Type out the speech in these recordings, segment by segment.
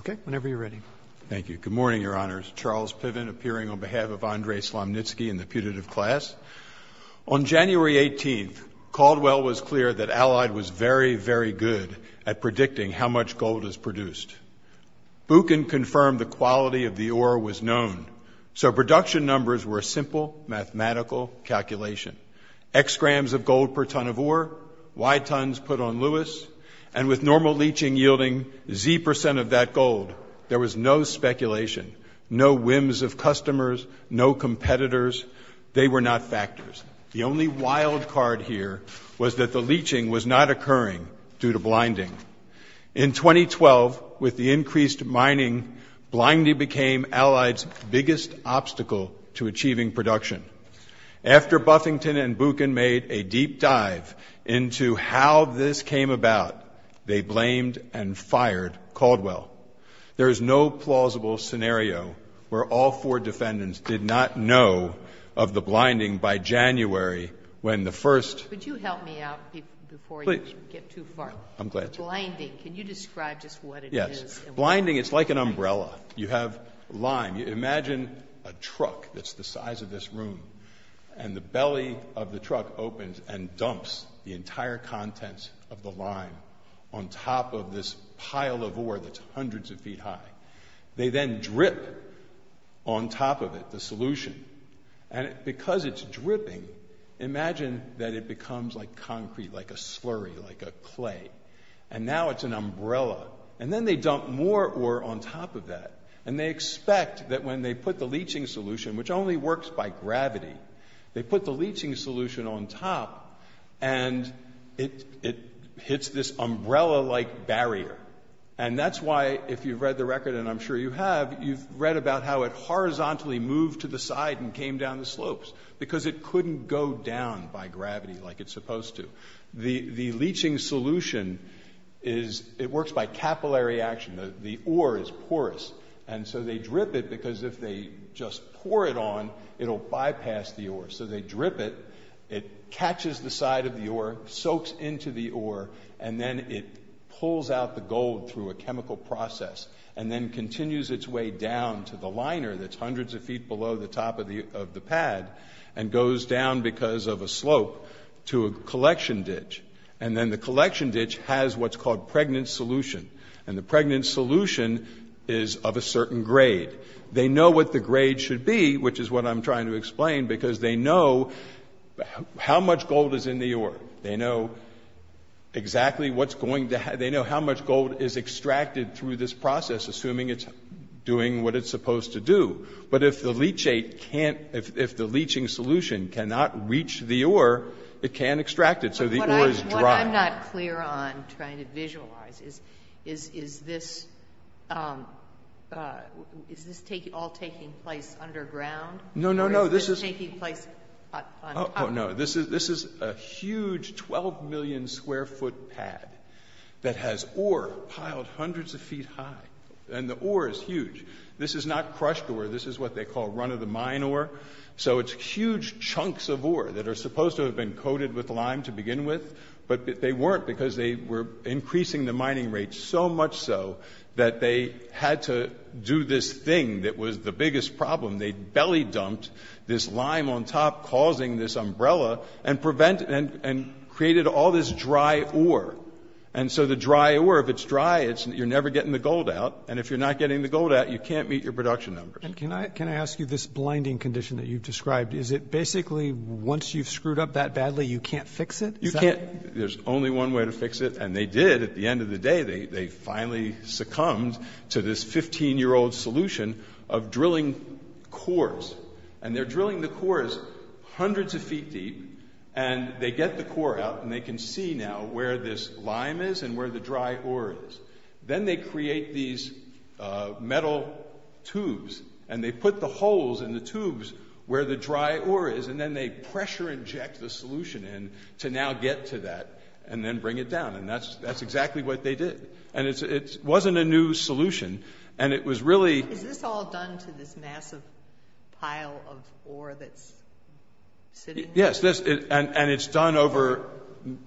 Okay, whenever you're ready. Thank you. Good morning, Your Honors. Charles Piven appearing on behalf of Andrey Slomnitsky and the putative class. On January 18th, Caldwell was clear that Allied was very, very good at predicting how much gold is produced. Buchan confirmed the quality of the ore was known, so production numbers were a simple mathematical calculation. X grams of gold per ton of ore, Y tons put on Lewis, and with normal leaching yielding Z percent of that gold, there was no speculation, no whims of customers, no competitors. They were not factors. The only wild card here was that the leaching was not occurring due to blinding. In 2012, with the increased mining, blinding became Allied's biggest obstacle to achieving production. After Buffington and Buchan made a deep dive into how this came about, they blamed and fired Caldwell. There is no plausible scenario where all four defendants did not know of the blinding by January when the first Could you help me out before you get too far? I'm glad to. The blinding, can you describe just what it is? Blinding, it's like an umbrella. You have lime. Imagine a truck that's the size of this room, and the belly of the truck opens and dumps the entire contents of the lime on top of this pile of ore that's hundreds of feet high. They then drip on top of it, the solution, and because it's dripping, imagine that it becomes like concrete, like a slurry, like a clay. And now it's an umbrella. And then they dump more ore on top of that. And they expect that when they put the leaching solution, which only works by gravity, they put the leaching solution on top, and it hits this umbrella-like barrier. And that's why, if you've read the record, and I'm sure you have, you've read about how it horizontally moved to the side and came down the slopes, because it couldn't go down by gravity like it's supposed to. The leaching solution, it works by capillary action. The ore is porous. And so they drip it because if they just pour it on, it'll bypass the ore. So they drip it. It catches the side of the ore, soaks into the ore, and then it pulls out the gold through a chemical process and then continues its way down to the liner that's hundreds of feet below the top of the pad and goes down because of a slope to a collection ditch. And then the collection ditch has what's called pregnant solution. And the pregnant solution is of a certain grade. They know what the grade should be, which is what I'm trying to explain, because they know how much gold is in the ore. They know exactly what's going to happen. They know how much gold is extracted through this process, assuming it's doing what it's supposed to do. But if the leaching solution cannot reach the ore, it can't extract it, so the ore is dry. What I'm not clear on, trying to visualize, is this all taking place underground? No, no, no. This is a huge 12 million square foot pad that has ore piled hundreds of feet high. And the ore is huge. This is not crushed ore. This is what they call run-of-the-mine ore. So it's huge chunks of ore that are supposed to have been coated with lime to begin with, but they weren't because they were increasing the mining rates so much so that they had to do this thing that was the biggest problem. They belly dumped this lime on top, causing this umbrella, and created all this dry ore. And so the dry ore, if it's dry, you're never getting the gold out, and if you're not getting the gold out, you can't meet your production numbers. And can I ask you this blinding condition that you've described? Is it basically once you've screwed up that badly, you can't fix it? You can't. There's only one way to fix it, and they did. At the end of the day, they finally succumbed to this 15-year-old solution of drilling cores. And they're drilling the cores hundreds of feet deep, and they get the core out, and they can see now where this lime is and where the dry ore is. Then they create these metal tubes, and they put the holes in the tubes where the dry ore is, and then they pressure inject the solution in to now get to that and then bring it down. And that's exactly what they did. And it wasn't a new solution, and it was really— Is this all done to this massive pile of ore that's sitting there? Yes, and it's done over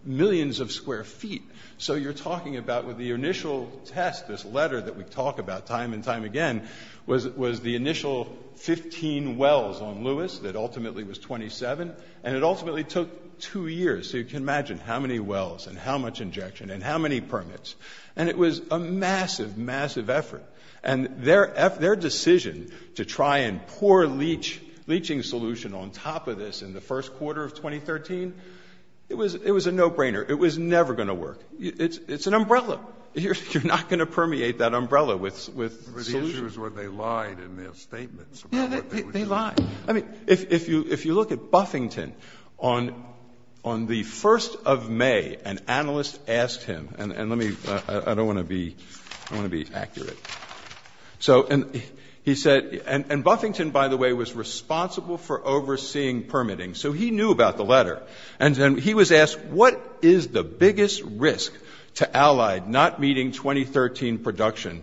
millions of square feet. So you're talking about with the initial test, this letter that we talk about time and time again, was the initial 15 wells on Lewis that ultimately was 27, and it ultimately took two years. So you can imagine how many wells and how much injection and how many permits. And it was a massive, massive effort. And their decision to try and pour leaching solution on top of this in the first quarter of 2013, it was a no-brainer. It was never going to work. It's an umbrella. You're not going to permeate that umbrella with solution. But the issue is where they lied in their statements about what they were doing. Yeah, they lied. I mean, if you look at Buffington, on the 1st of May, an analyst asked him— and let me—I don't want to be accurate. So he said—and Buffington, by the way, was responsible for overseeing permitting, so he knew about the letter. And he was asked, what is the biggest risk to Allied not meeting 2013 production?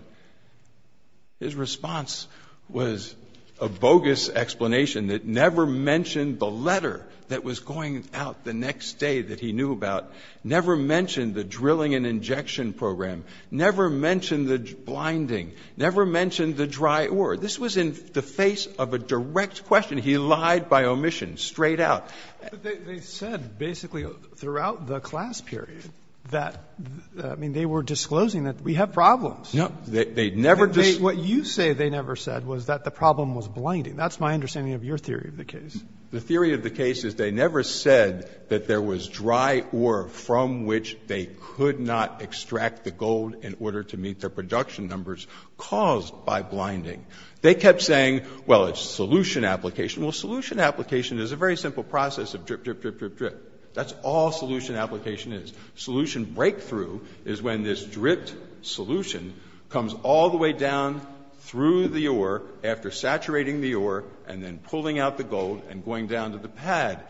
His response was a bogus explanation that never mentioned the letter that was going out the next day that he knew about, never mentioned the drilling and injection program, never mentioned the blinding, never mentioned the dry ore. This was in the face of a direct question. He lied by omission, straight out. But they said basically throughout the class period that—I mean, they were disclosing that we have problems. No. They never— What you say they never said was that the problem was blinding. That's my understanding of your theory of the case. The theory of the case is they never said that there was dry ore from which they could not extract the gold in order to meet their production numbers caused by blinding. They kept saying, well, it's solution application. Well, solution application is a very simple process of drip, drip, drip, drip, drip. That's all solution application is. Solution breakthrough is when this dripped solution comes all the way down through the ore after saturating the ore and then pulling out the gold and going down to the pad.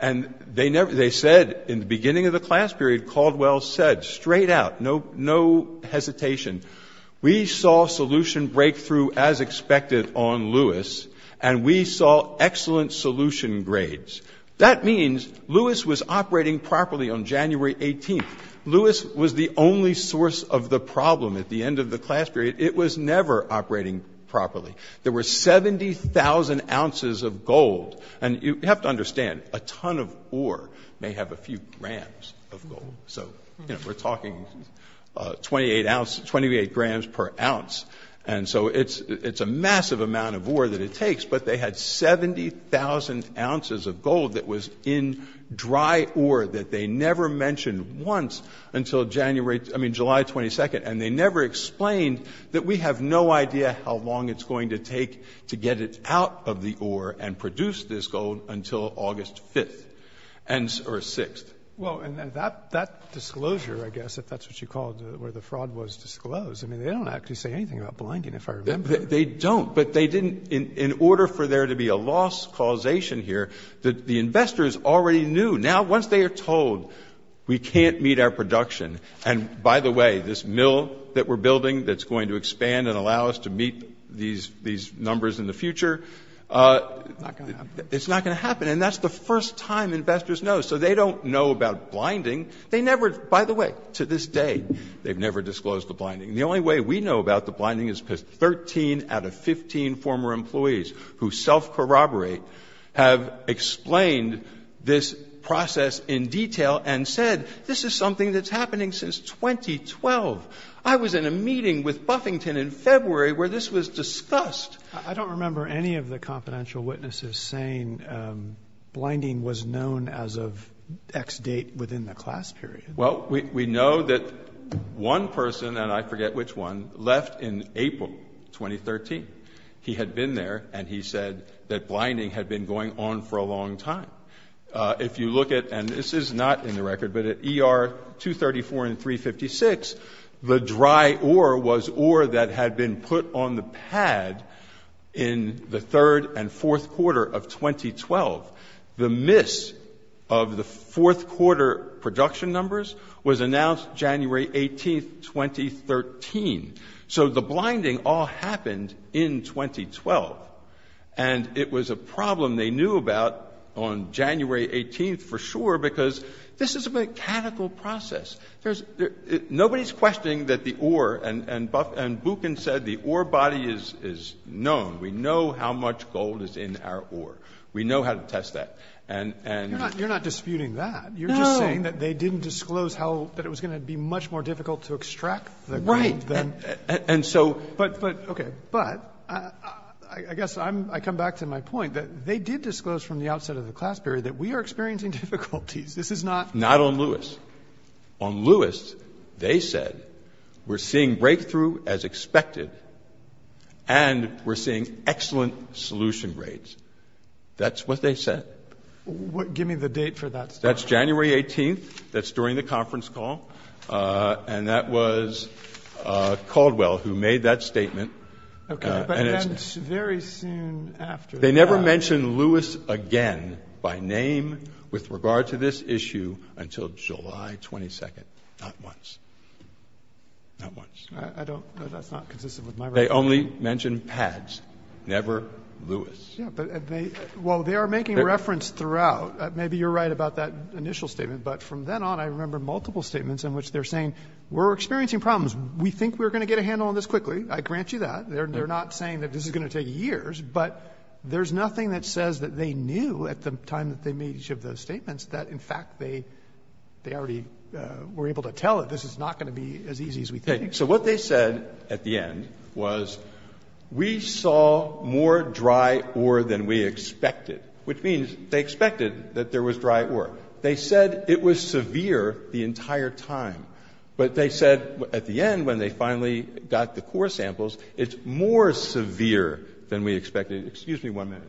And they said in the beginning of the class period, Caldwell said straight out, no hesitation, we saw solution breakthrough as expected on Lewis and we saw excellent solution grades. That means Lewis was operating properly on January 18th. Lewis was the only source of the problem at the end of the class period. It was never operating properly. There were 70,000 ounces of gold. And you have to understand, a ton of ore may have a few grams of gold. So we're talking 28 grams per ounce. And so it's a massive amount of ore that it takes. But they had 70,000 ounces of gold that was in dry ore that they never mentioned once until July 22nd. And they never explained that we have no idea how long it's going to take to get it out of the ore and produce this gold until August 5th or 6th. Well, and that disclosure, I guess, if that's what you called where the fraud was disclosed, I mean, they don't actually say anything about blinding, if I remember. They don't. But they didn't in order for there to be a loss causation here, the investors already knew. Now, once they are told we can't meet our production, and by the way, this mill that we're building that's going to expand and allow us to meet these numbers in the future, it's not going to happen. And that's the first time investors know. So they don't know about blinding. They never, by the way, to this day, they've never disclosed the blinding. The only way we know about the blinding is because 13 out of 15 former employees who self-corroborate have explained this process in detail and said this is something that's happening since 2012. I was in a meeting with Buffington in February where this was discussed. I don't remember any of the confidential witnesses saying blinding was known as of X date within the class period. Well, we know that one person, and I forget which one, left in April 2013. He had been there, and he said that blinding had been going on for a long time. If you look at, and this is not in the record, but at ER 234 and 356, the dry ore was ore that had been put on the pad in the third and fourth quarter of 2012. The miss of the fourth quarter production numbers was announced January 18, 2013. So the blinding all happened in 2012, and it was a problem they knew about on January 18 for sure because this is a mechanical process. Nobody's questioning that the ore, and Buchan said the ore body is known. We know how to test that. You're not disputing that. You're just saying that they didn't disclose that it was going to be much more difficult to extract the grain. Right. But I guess I come back to my point that they did disclose from the outset of the class period that we are experiencing difficulties. Not on Lewis. On Lewis, they said we're seeing breakthrough as expected, and we're seeing excellent solution rates. That's what they said. Give me the date for that statement. That's January 18. That's during the conference call, and that was Caldwell who made that statement. Okay. But then very soon after that. They never mentioned Lewis again by name with regard to this issue until July 22nd. Not once. Not once. I don't know. That's not consistent with my reference. They only mentioned PADS, never Lewis. Yeah, but they are making reference throughout. Maybe you're right about that initial statement, but from then on I remember multiple statements in which they're saying we're experiencing problems. We think we're going to get a handle on this quickly. I grant you that. They're not saying that this is going to take years, but there's nothing that says that they knew at the time that they made each of those statements that, in fact, they already were able to tell that this is not going to be as easy as we think. So what they said at the end was we saw more dry ore than we expected, which means they expected that there was dry ore. They said it was severe the entire time. But they said at the end when they finally got the core samples, it's more severe than we expected. Excuse me one minute.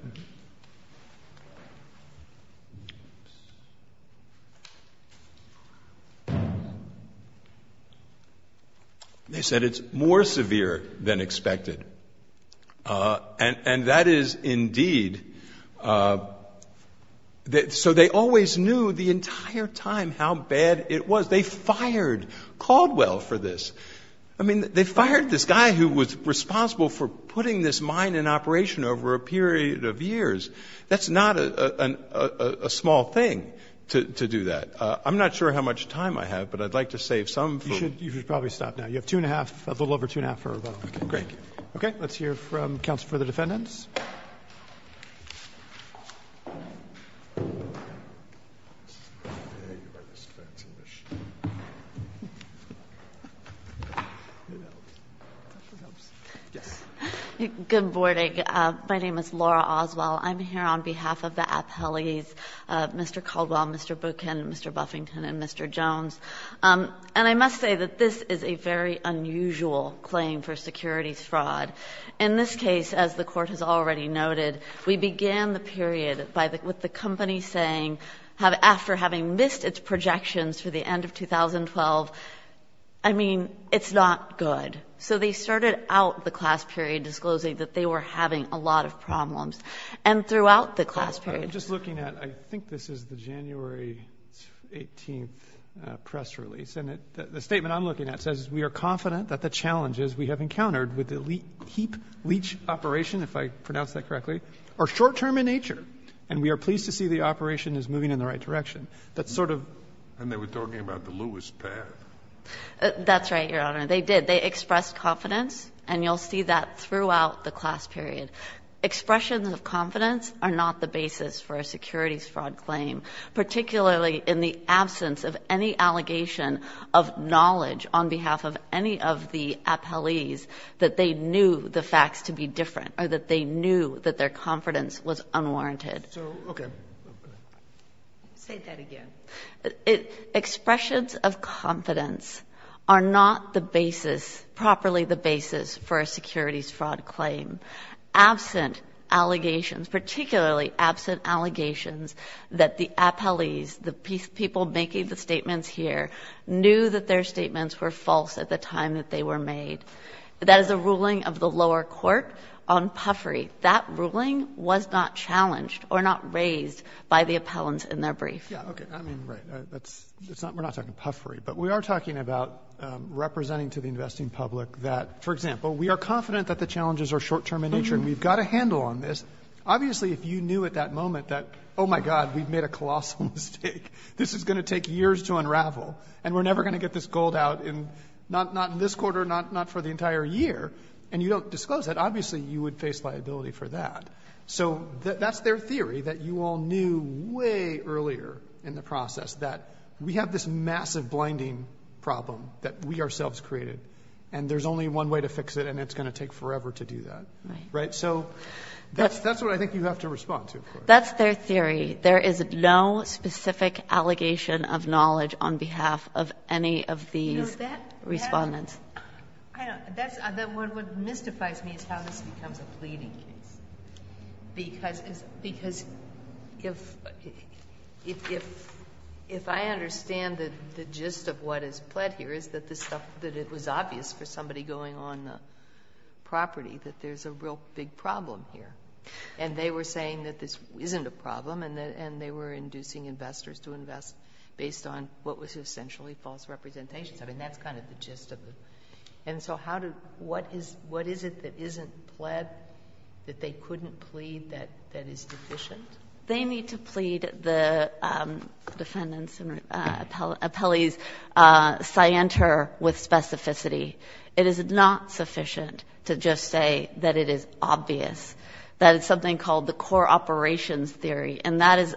They said it's more severe than expected. And that is indeed. So they always knew the entire time how bad it was. They fired Caldwell for this. I mean, they fired this guy who was responsible for putting this mine in operation over a period of years. That's not a small thing to do that. I'm not sure how much time I have, but I'd like to save some for you. You should probably stop now. You have two and a half, a little over two and a half for rebuttal. Okay. Let's hear from counsel for the defendants. Yes. Good morning. My name is Laura Oswald. I'm here on behalf of the appellees, Mr. Caldwell, Mr. Buchan, Mr. Buffington, and Mr. Jones. And I must say that this is a very unusual claim for securities fraud. In this case, as the Court has already noted, we began the period with the company saying, after having missed its projections for the end of 2012, I mean, it's not good. So they started out the class period disclosing that they were having a lot of problems. And throughout the class period. I'm just looking at, I think this is the January 18 press release. And the statement I'm looking at says, we are confident that the challenges we have encountered with the heap leach operation, if I pronounced that correctly, are short-term in nature. And we are pleased to see the operation is moving in the right direction. That's sort of. And they were talking about the Lewis path. That's right, Your Honor. They did. They expressed confidence. And you'll see that throughout the class period. Expressions of confidence are not the basis for a securities fraud claim, particularly in the absence of any allegation of knowledge on behalf of any of the appellees that they knew the facts to be different or that they knew that their confidence was unwarranted. So, okay. Say that again. Expressions of confidence are not the basis, properly the basis, for a securities fraud claim. Absent allegations, particularly absent allegations that the appellees, the people making the statements here, knew that their statements were false at the time that they were made. That is a ruling of the lower court on puffery. That ruling was not challenged or not raised by the appellants in their brief. Yeah, okay. I mean, right. We're not talking puffery. But we are talking about representing to the investing public that, for example, we are confident that the challenges are short-term in nature and we've got a handle on this. Obviously, if you knew at that moment that, oh, my God, we've made a colossal mistake, this is going to take years to unravel and we're never going to get this gold out, not in this quarter, not for the entire year, and you don't disclose that, obviously you would face liability for that. So that's their theory that you all knew way earlier in the process, that we have this massive blinding problem that we ourselves created and there's only one way to fix it and it's going to take forever to do that. Right? So that's what I think you have to respond to. That's their theory. There is no specific allegation of knowledge on behalf of any of these respondents. That's what mystifies me is how this becomes a pleading case. Because if I understand the gist of what is pled here is that it was obvious for somebody going on property that there's a real big problem here. And they were saying that this isn't a problem and they were inducing investors to invest based on what was essentially false representations. I mean, that's kind of the gist of it. And so what is it that isn't pled that they couldn't plead that is deficient? They need to plead the defendant's appellee's scienter with specificity. It is not sufficient to just say that it is obvious, that it's something called the core operations theory, and that is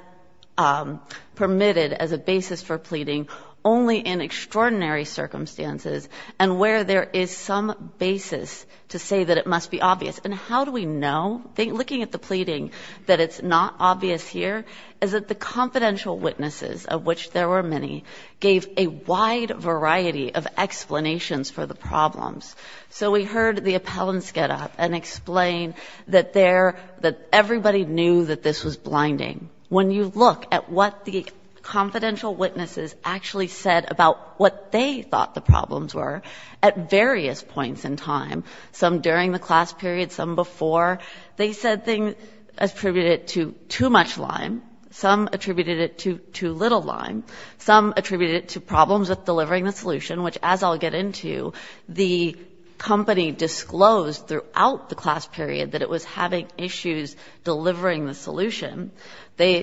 permitted as a basis for pleading only in extraordinary circumstances and where there is some basis to say that it must be obvious. And how do we know? Looking at the pleading, that it's not obvious here is that the confidential witnesses, of which there were many, gave a wide variety of explanations for the problems. So we heard the appellants get up and explain that everybody knew that this was blinding. When you look at what the confidential witnesses actually said about what they thought the problems were at various points in time, some during the class period, some before, they said things attributed to too much lime, some attributed it to too little lime, some attributed it to problems with delivering the solution, which as I'll get into, the company disclosed throughout the class period that it was having issues delivering the solution.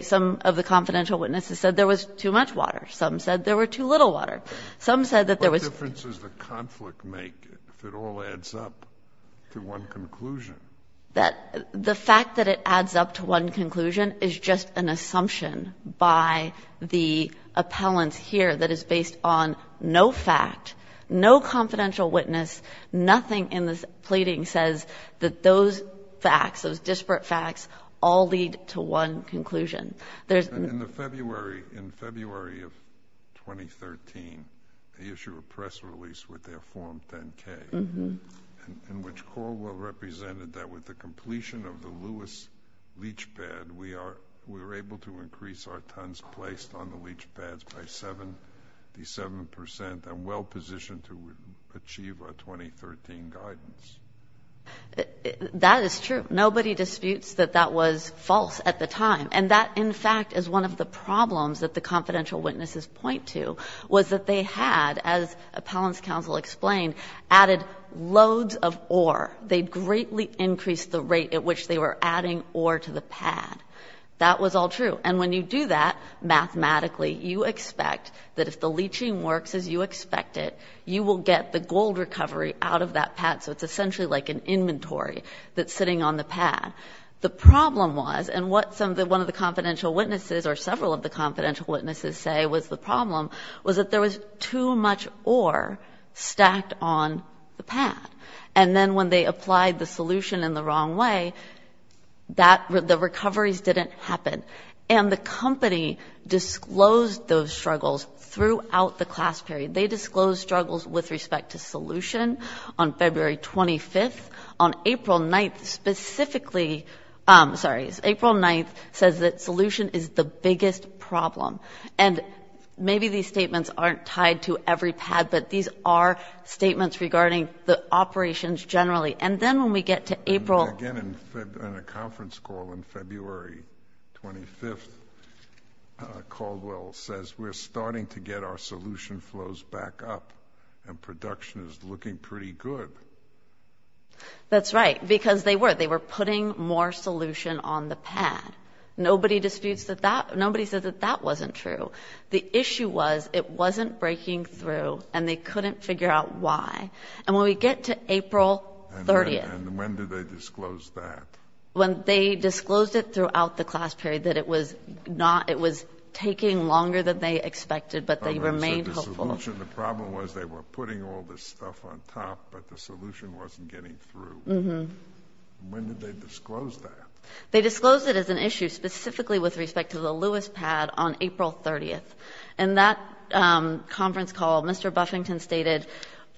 Some of the confidential witnesses said there was too much water. Some said there were too little water. Some said that there was too little water. The fact that it adds up to one conclusion is just an assumption by the appellants here that is based on no fact, no confidential witness, nothing in this pleading says that those facts, those disparate facts, all lead to one conclusion. In February of 2013, they issued a press release with their form 10-K, in which Corwell represented that with the completion of the Lewis leach pad, we were able to increase our tons placed on the leach pads by 77 percent and well positioned to achieve our 2013 guidance. That is true. Nobody disputes that that was false at the time. And that, in fact, is one of the problems that the confidential witnesses point to, was that they had, as appellants counsel explained, added loads of ore. They greatly increased the rate at which they were adding ore to the pad. That was all true. And when you do that mathematically, you expect that if the leaching works as you expect it, you will get the gold recovery out of that pad. So it's essentially like an inventory that's sitting on the pad. The problem was, and what one of the confidential witnesses or several of the confidential witnesses say was the problem, and then when they applied the solution in the wrong way, the recoveries didn't happen. And the company disclosed those struggles throughout the class period. They disclosed struggles with respect to solution on February 25th. On April 9th, specifically, sorry, April 9th, says that solution is the biggest problem. And maybe these statements aren't tied to every pad, but these are statements regarding the operations generally. And then when we get to April- Again, in a conference call on February 25th, Caldwell says, we're starting to get our solution flows back up and production is looking pretty good. That's right, because they were. They were putting more solution on the pad. Nobody disputes that that, nobody said that that wasn't true. The issue was it wasn't breaking through and they couldn't figure out why. And when we get to April 30th- And when did they disclose that? They disclosed it throughout the class period, that it was taking longer than they expected, but they remained hopeful. So the solution, the problem was they were putting all this stuff on top, but the solution wasn't getting through. When did they disclose that? They disclosed it as an issue specifically with respect to the Lewis pad on April 30th. And that conference call, Mr. Buffington stated,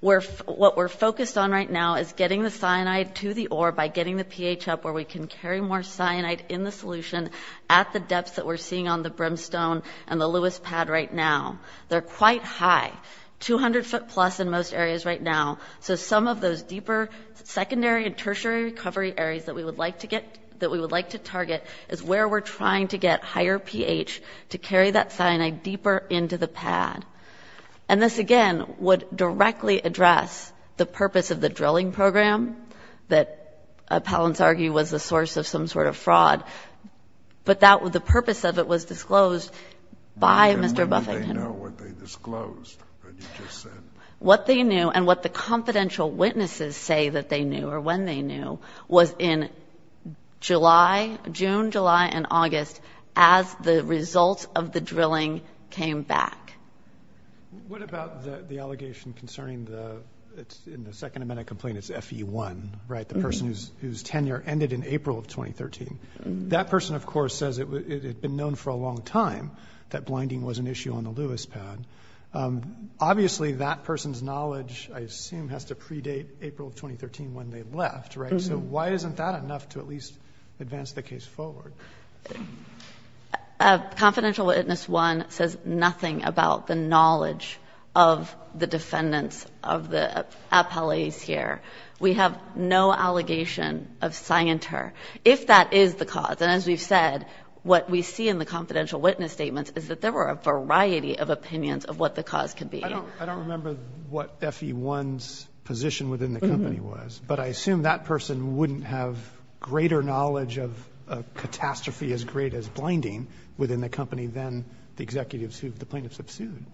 what we're focused on right now is getting the cyanide to the ore by getting the pH up where we can carry more cyanide in the solution at the depths that we're seeing on the brimstone and the Lewis pad right now. They're quite high, 200 foot plus in most areas right now. So some of those deeper secondary and tertiary recovery areas that we would like to target is where we're trying to get higher pH to carry that cyanide deeper into the pad. And this, again, would directly address the purpose of the drilling program that appellants argue was the source of some sort of fraud. But the purpose of it was disclosed by Mr. Buffington. And when did they know what they disclosed that you just said? What they knew and what the confidential witnesses say that they knew or when they knew was in June, July, and August as the results of the drilling came back. What about the allegation concerning the second amendment complaint, it's FE1, right, the person whose tenure ended in April of 2013? That person, of course, says it had been known for a long time that blinding was an issue on the Lewis pad. Obviously, that person's knowledge, I assume, has to predate April of 2013 when they left, right? So why isn't that enough to at least advance the case forward? Confidential witness one says nothing about the knowledge of the defendants of the appellees here. We have no allegation of cyanter. If that is the cause, and as we've said, what we see in the confidential witness statements is that there were a variety of opinions of what the cause could be. I don't remember what FE1's position within the company was, but I assume that person wouldn't have greater knowledge of a catastrophe as great as blinding within the company than the executives who the plaintiffs have sued.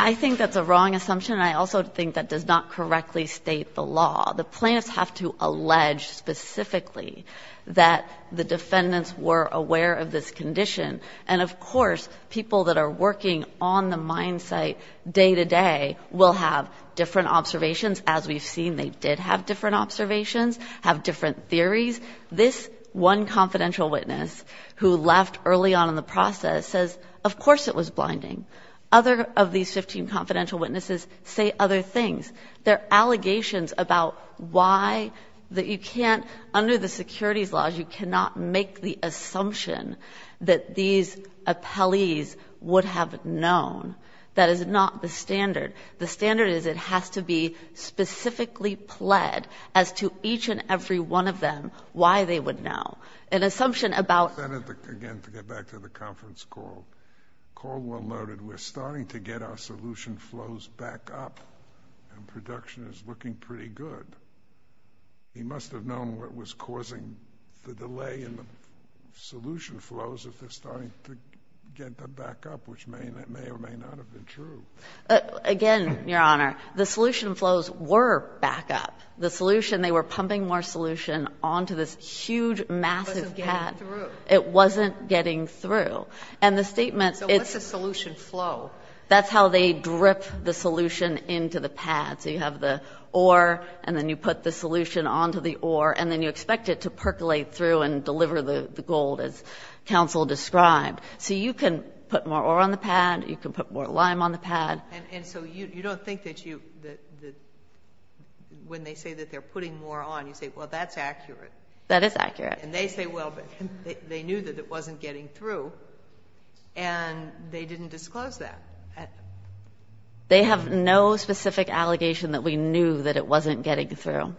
I think that's a wrong assumption. I also think that does not correctly state the law. The plaintiffs have to allege specifically that the defendants were aware of this condition. And, of course, people that are working on the mine site day to day will have different observations. As we've seen, they did have different observations, have different theories. This one confidential witness who left early on in the process says, of course it was blinding. Other of these 15 confidential witnesses say other things. They're allegations about why that you can't, under the securities laws, you cannot make the assumption that these appellees would have known. That is not the standard. The standard is it has to be specifically pled as to each and every one of them why they would know. An assumption about... Again, to get back to the conference call, Caldwell noted we're starting to get our solution flows back up, and production is looking pretty good. He must have known what was causing the delay in the solution flows if they're starting to get them back up, which may or may not have been true. Again, Your Honor, the solution flows were back up. The solution, they were pumping more solution onto this huge, massive pad. It wasn't getting through. It wasn't getting through. And the statement... So what's a solution flow? That's how they drip the solution into the pad. So you have the ore, and then you put the solution onto the ore, and then you expect it to percolate through and deliver the gold as counsel described. So you can put more ore on the pad. You can put more lime on the pad. And so you don't think that when they say that they're putting more on, you say, well, that's accurate. That is accurate. And they say, well, they knew that it wasn't getting through, and they didn't disclose that. They have no specific allegation that we knew that it wasn't getting through.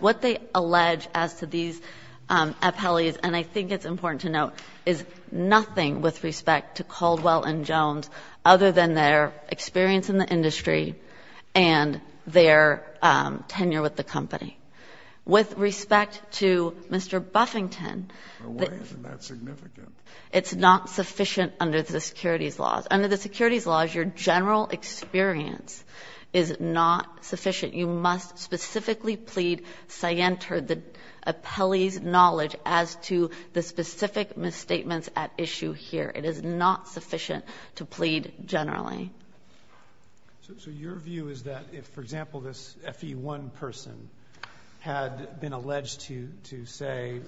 What they allege as to these appellees, and I think it's important to note, is nothing with respect to Caldwell & Jones other than their experience in the industry and their tenure with the company. With respect to Mr. Buffington... Well, why isn't that significant? It's not sufficient under the securities laws. Under the securities laws, your general experience is not sufficient. You must specifically plead scienter, the appellee's knowledge, as to the specific misstatements at issue here. It is not sufficient to plead generally. So your view is that if, for example, this FE1 person had been alleged to say,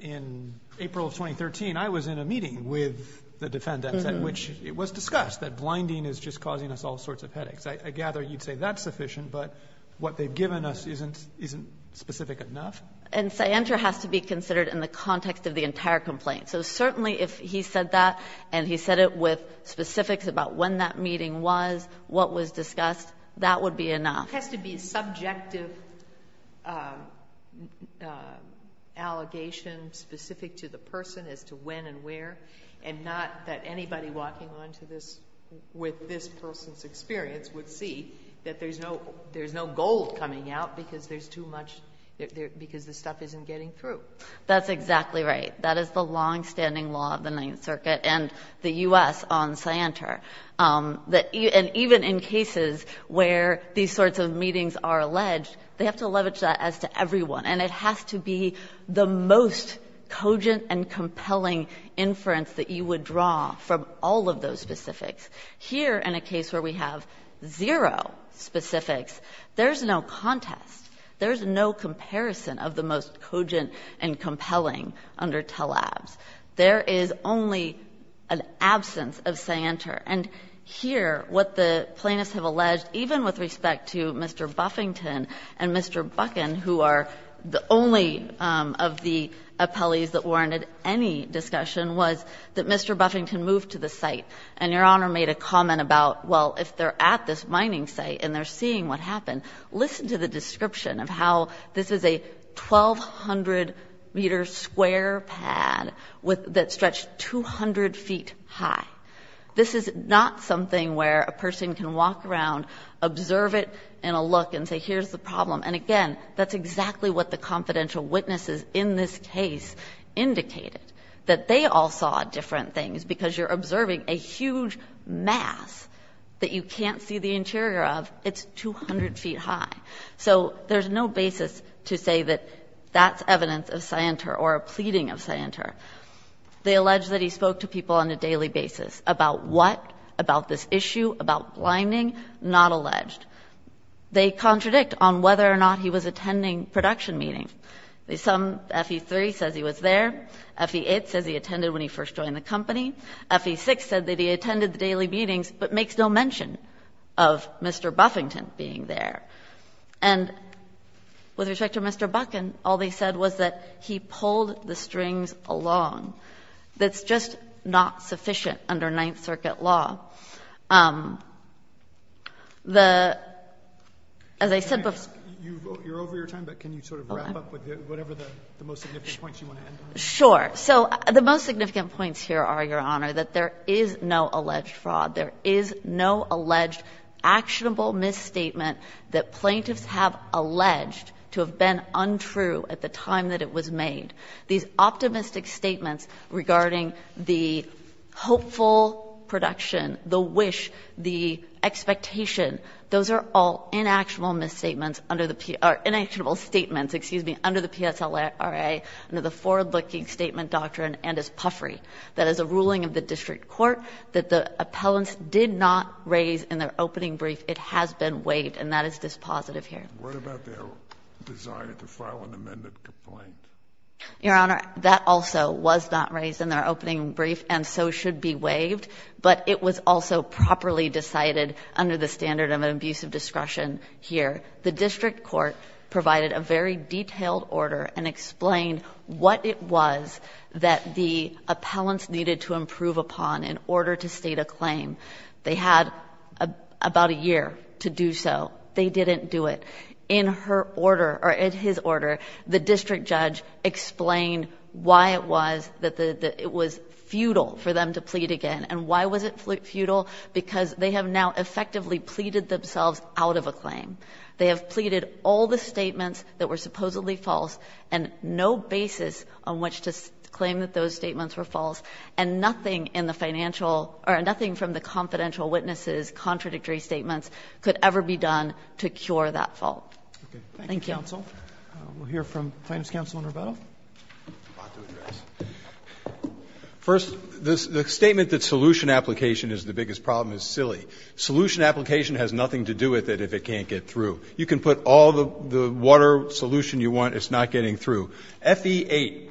in April of 2013, I was in a meeting with the defendants at which it was discussed that blinding is just causing us all sorts of headaches. I gather you'd say that's sufficient, but what they've given us isn't specific enough. And scienter has to be considered in the context of the entire complaint. So certainly if he said that, and he said it with specifics about when that meeting was, what was discussed, that would be enough. It has to be a subjective allegation specific to the person as to when and where, and not that anybody walking on with this person's experience would see that there's no gold coming out because there's too much, because the stuff isn't getting through. That's exactly right. That is the longstanding law of the Ninth Circuit and the U.S. on scienter. And even in cases where these sorts of meetings are alleged, they have to leverage that as to everyone, and it has to be the most cogent and compelling inference that you would draw from all of those specifics. Here, in a case where we have zero specifics, there's no contest. There's no comparison of the most cogent and compelling under TLABS. There is only an absence of scienter. And here, what the plaintiffs have alleged, even with respect to Mr. Buffington and Mr. Buchan, who are the only of the appellees that warranted any discussion, was that Mr. Buffington moved to the site. And Your Honor made a comment about, well, if they're at this mining site and they're seeing what happened, listen to the description of how this is a 1,200-meter square pad that stretched 200 feet high. This is not something where a person can walk around, observe it, and a look and say, here's the problem. And again, that's exactly what the confidential witnesses in this case indicated, that they all saw different things. Because you're observing a huge mass that you can't see the interior of. It's 200 feet high. So there's no basis to say that that's evidence of scienter or a pleading of scienter. They allege that he spoke to people on a daily basis about what? About this issue? About blinding? Not alleged. They contradict on whether or not he was attending production meetings. Some FE3 says he was there. FE8 says he attended when he first joined the company. FE6 said that he attended the daily meetings but makes no mention of Mr. Buffington being there. And with respect to Mr. Buckin, all they said was that he pulled the strings along. That's just not sufficient under Ninth Circuit law. The, as I said before. You're over your time, but can you sort of wrap up with whatever the most significant points you want to end on? Sure. So the most significant points here are, Your Honor, that there is no alleged fraud. There is no alleged actionable misstatement that plaintiffs have alleged to have been untrue at the time that it was made. These optimistic statements regarding the hopeful production, the wish, the expectation, those are all inactual misstatements under the, or inactual statements, excuse me, under the PSLRA, under the forward-looking statement doctrine and as puffery. That is a ruling of the district court that the appellants did not raise in their opening brief. It has been waived, and that is dispositive here. What about their desire to file an amended complaint? Your Honor, that also was not raised in their opening brief and so should be waived, but it was also properly decided under the standard of an abuse of discretion here. The district court provided a very detailed order and explained what it was that the appellants needed to improve upon in order to state a claim. They had about a year to do so. They didn't do it. In her order, or in his order, the district judge explained why it was that it was futile for them to plead again, and why was it futile? Because they have now effectively pleaded themselves out of a claim. They have pleaded all the statements that were supposedly false and no basis on which to claim that those statements were false, and nothing in the financial or nothing from the confidential witnesses' contradictory statements could ever be done to cure that fault. Thank you. Roberts. First, the statement that solution application is the biggest problem is silly. Solution application has nothing to do with it if it can't get through. You can put all the water solution you want, it's not getting through. FE8,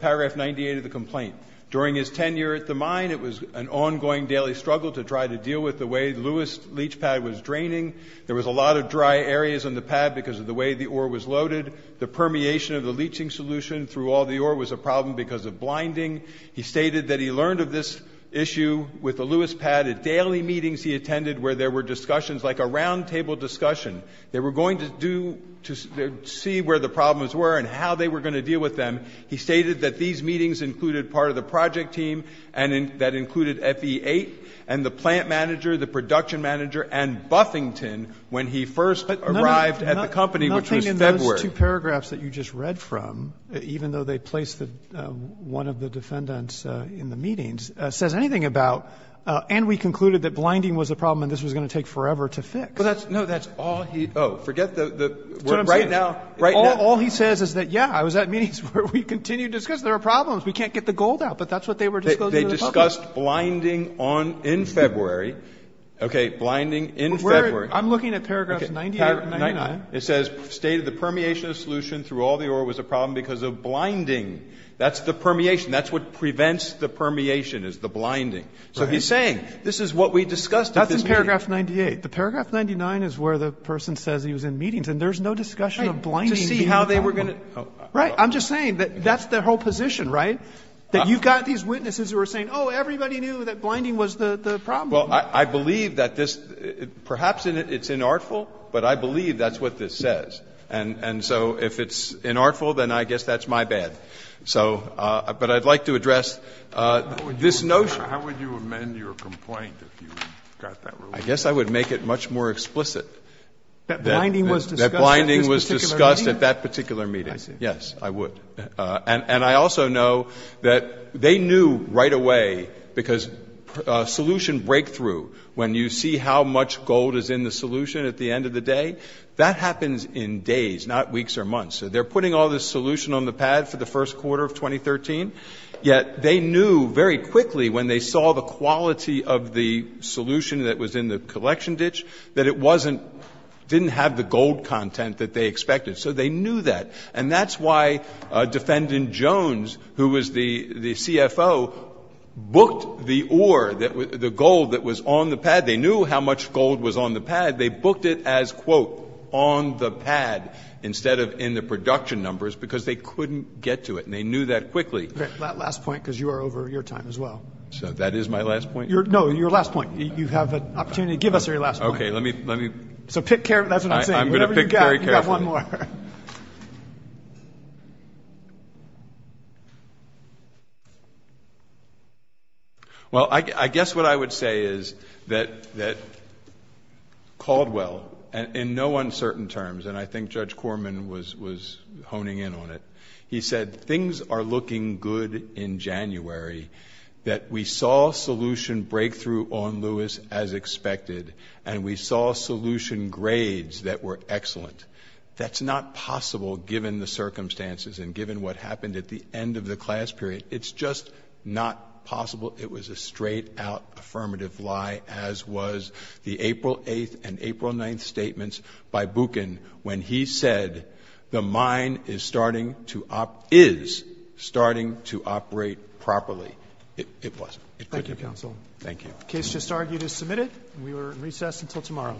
paragraph 98 of the complaint. During his tenure at the mine, it was an ongoing daily struggle to try to deal with the way the leach pad was draining. There was a lot of dry areas on the pad because of the way the ore was loaded. The permeation of the leaching solution through all the ore was a problem because of blinding. He stated that he learned of this issue with the Lewis pad. At daily meetings he attended where there were discussions, like a roundtable discussion, they were going to do to see where the problems were and how they were going to deal with them. He stated that these meetings included part of the project team and that included FE8 and the plant manager, the production manager, and Buffington when he first arrived at the company, which was February. The two paragraphs that you just read from, even though they place one of the defendants in the meetings, says anything about, and we concluded that blinding was a problem and this was going to take forever to fix. No, that's all he – oh, forget the word right now. That's what I'm saying. All he says is that, yeah, I was at meetings where we continued discussions. There were problems. We can't get the gold out. But that's what they were disclosing to the public. They discussed blinding in February. Okay, blinding in February. I'm looking at paragraphs 98 and 99. It says state of the permeation of solution through all the order was a problem because of blinding. That's the permeation. That's what prevents the permeation is the blinding. So he's saying this is what we discussed at this meeting. That's in paragraph 98. The paragraph 99 is where the person says he was in meetings and there's no discussion of blinding being a problem. Right. To see how they were going to – oh. Right. I'm just saying that that's the whole position, right, that you've got these witnesses who are saying, oh, everybody knew that blinding was the problem. Well, I believe that this – perhaps it's inartful, but I believe that's what this says. And so if it's inartful, then I guess that's my bad. So – but I'd like to address this notion. How would you amend your complaint if you got that wrong? I guess I would make it much more explicit. That blinding was discussed at this particular meeting? That blinding was discussed at that particular meeting. I see. Yes, I would. And I also know that they knew right away – because solution breakthrough, when you see how much gold is in the solution at the end of the day, that happens in days, not weeks or months. So they're putting all this solution on the pad for the first quarter of 2013, yet they knew very quickly when they saw the quality of the solution that was in the collection ditch that it wasn't – didn't have the gold content that they expected. So they knew that. And that's why Defendant Jones, who was the CFO, booked the ore, the gold that was on the pad. They knew how much gold was on the pad. They booked it as, quote, on the pad instead of in the production numbers because they couldn't get to it, and they knew that quickly. Okay. Last point, because you are over your time as well. So that is my last point? No, your last point. You have an opportunity to give us your last point. Okay. So pick – that's what I'm saying. I'm going to pick very carefully. We've got one more. Well, I guess what I would say is that Caldwell, in no uncertain terms, and I think Judge Corman was honing in on it, he said, things are looking good in January, that we saw solution breakthrough on Lewis as expected, and we saw solution grades that were excellent. That's not possible given the circumstances and given what happened at the end of the class period. It's just not possible. It was a straight-out affirmative lie, as was the April 8th and April 9th statements by Buchan when he said, the mine is starting to – is starting to operate properly. It wasn't. Thank you, counsel. Thank you. The case just argued is submitted. We are in recess until tomorrow.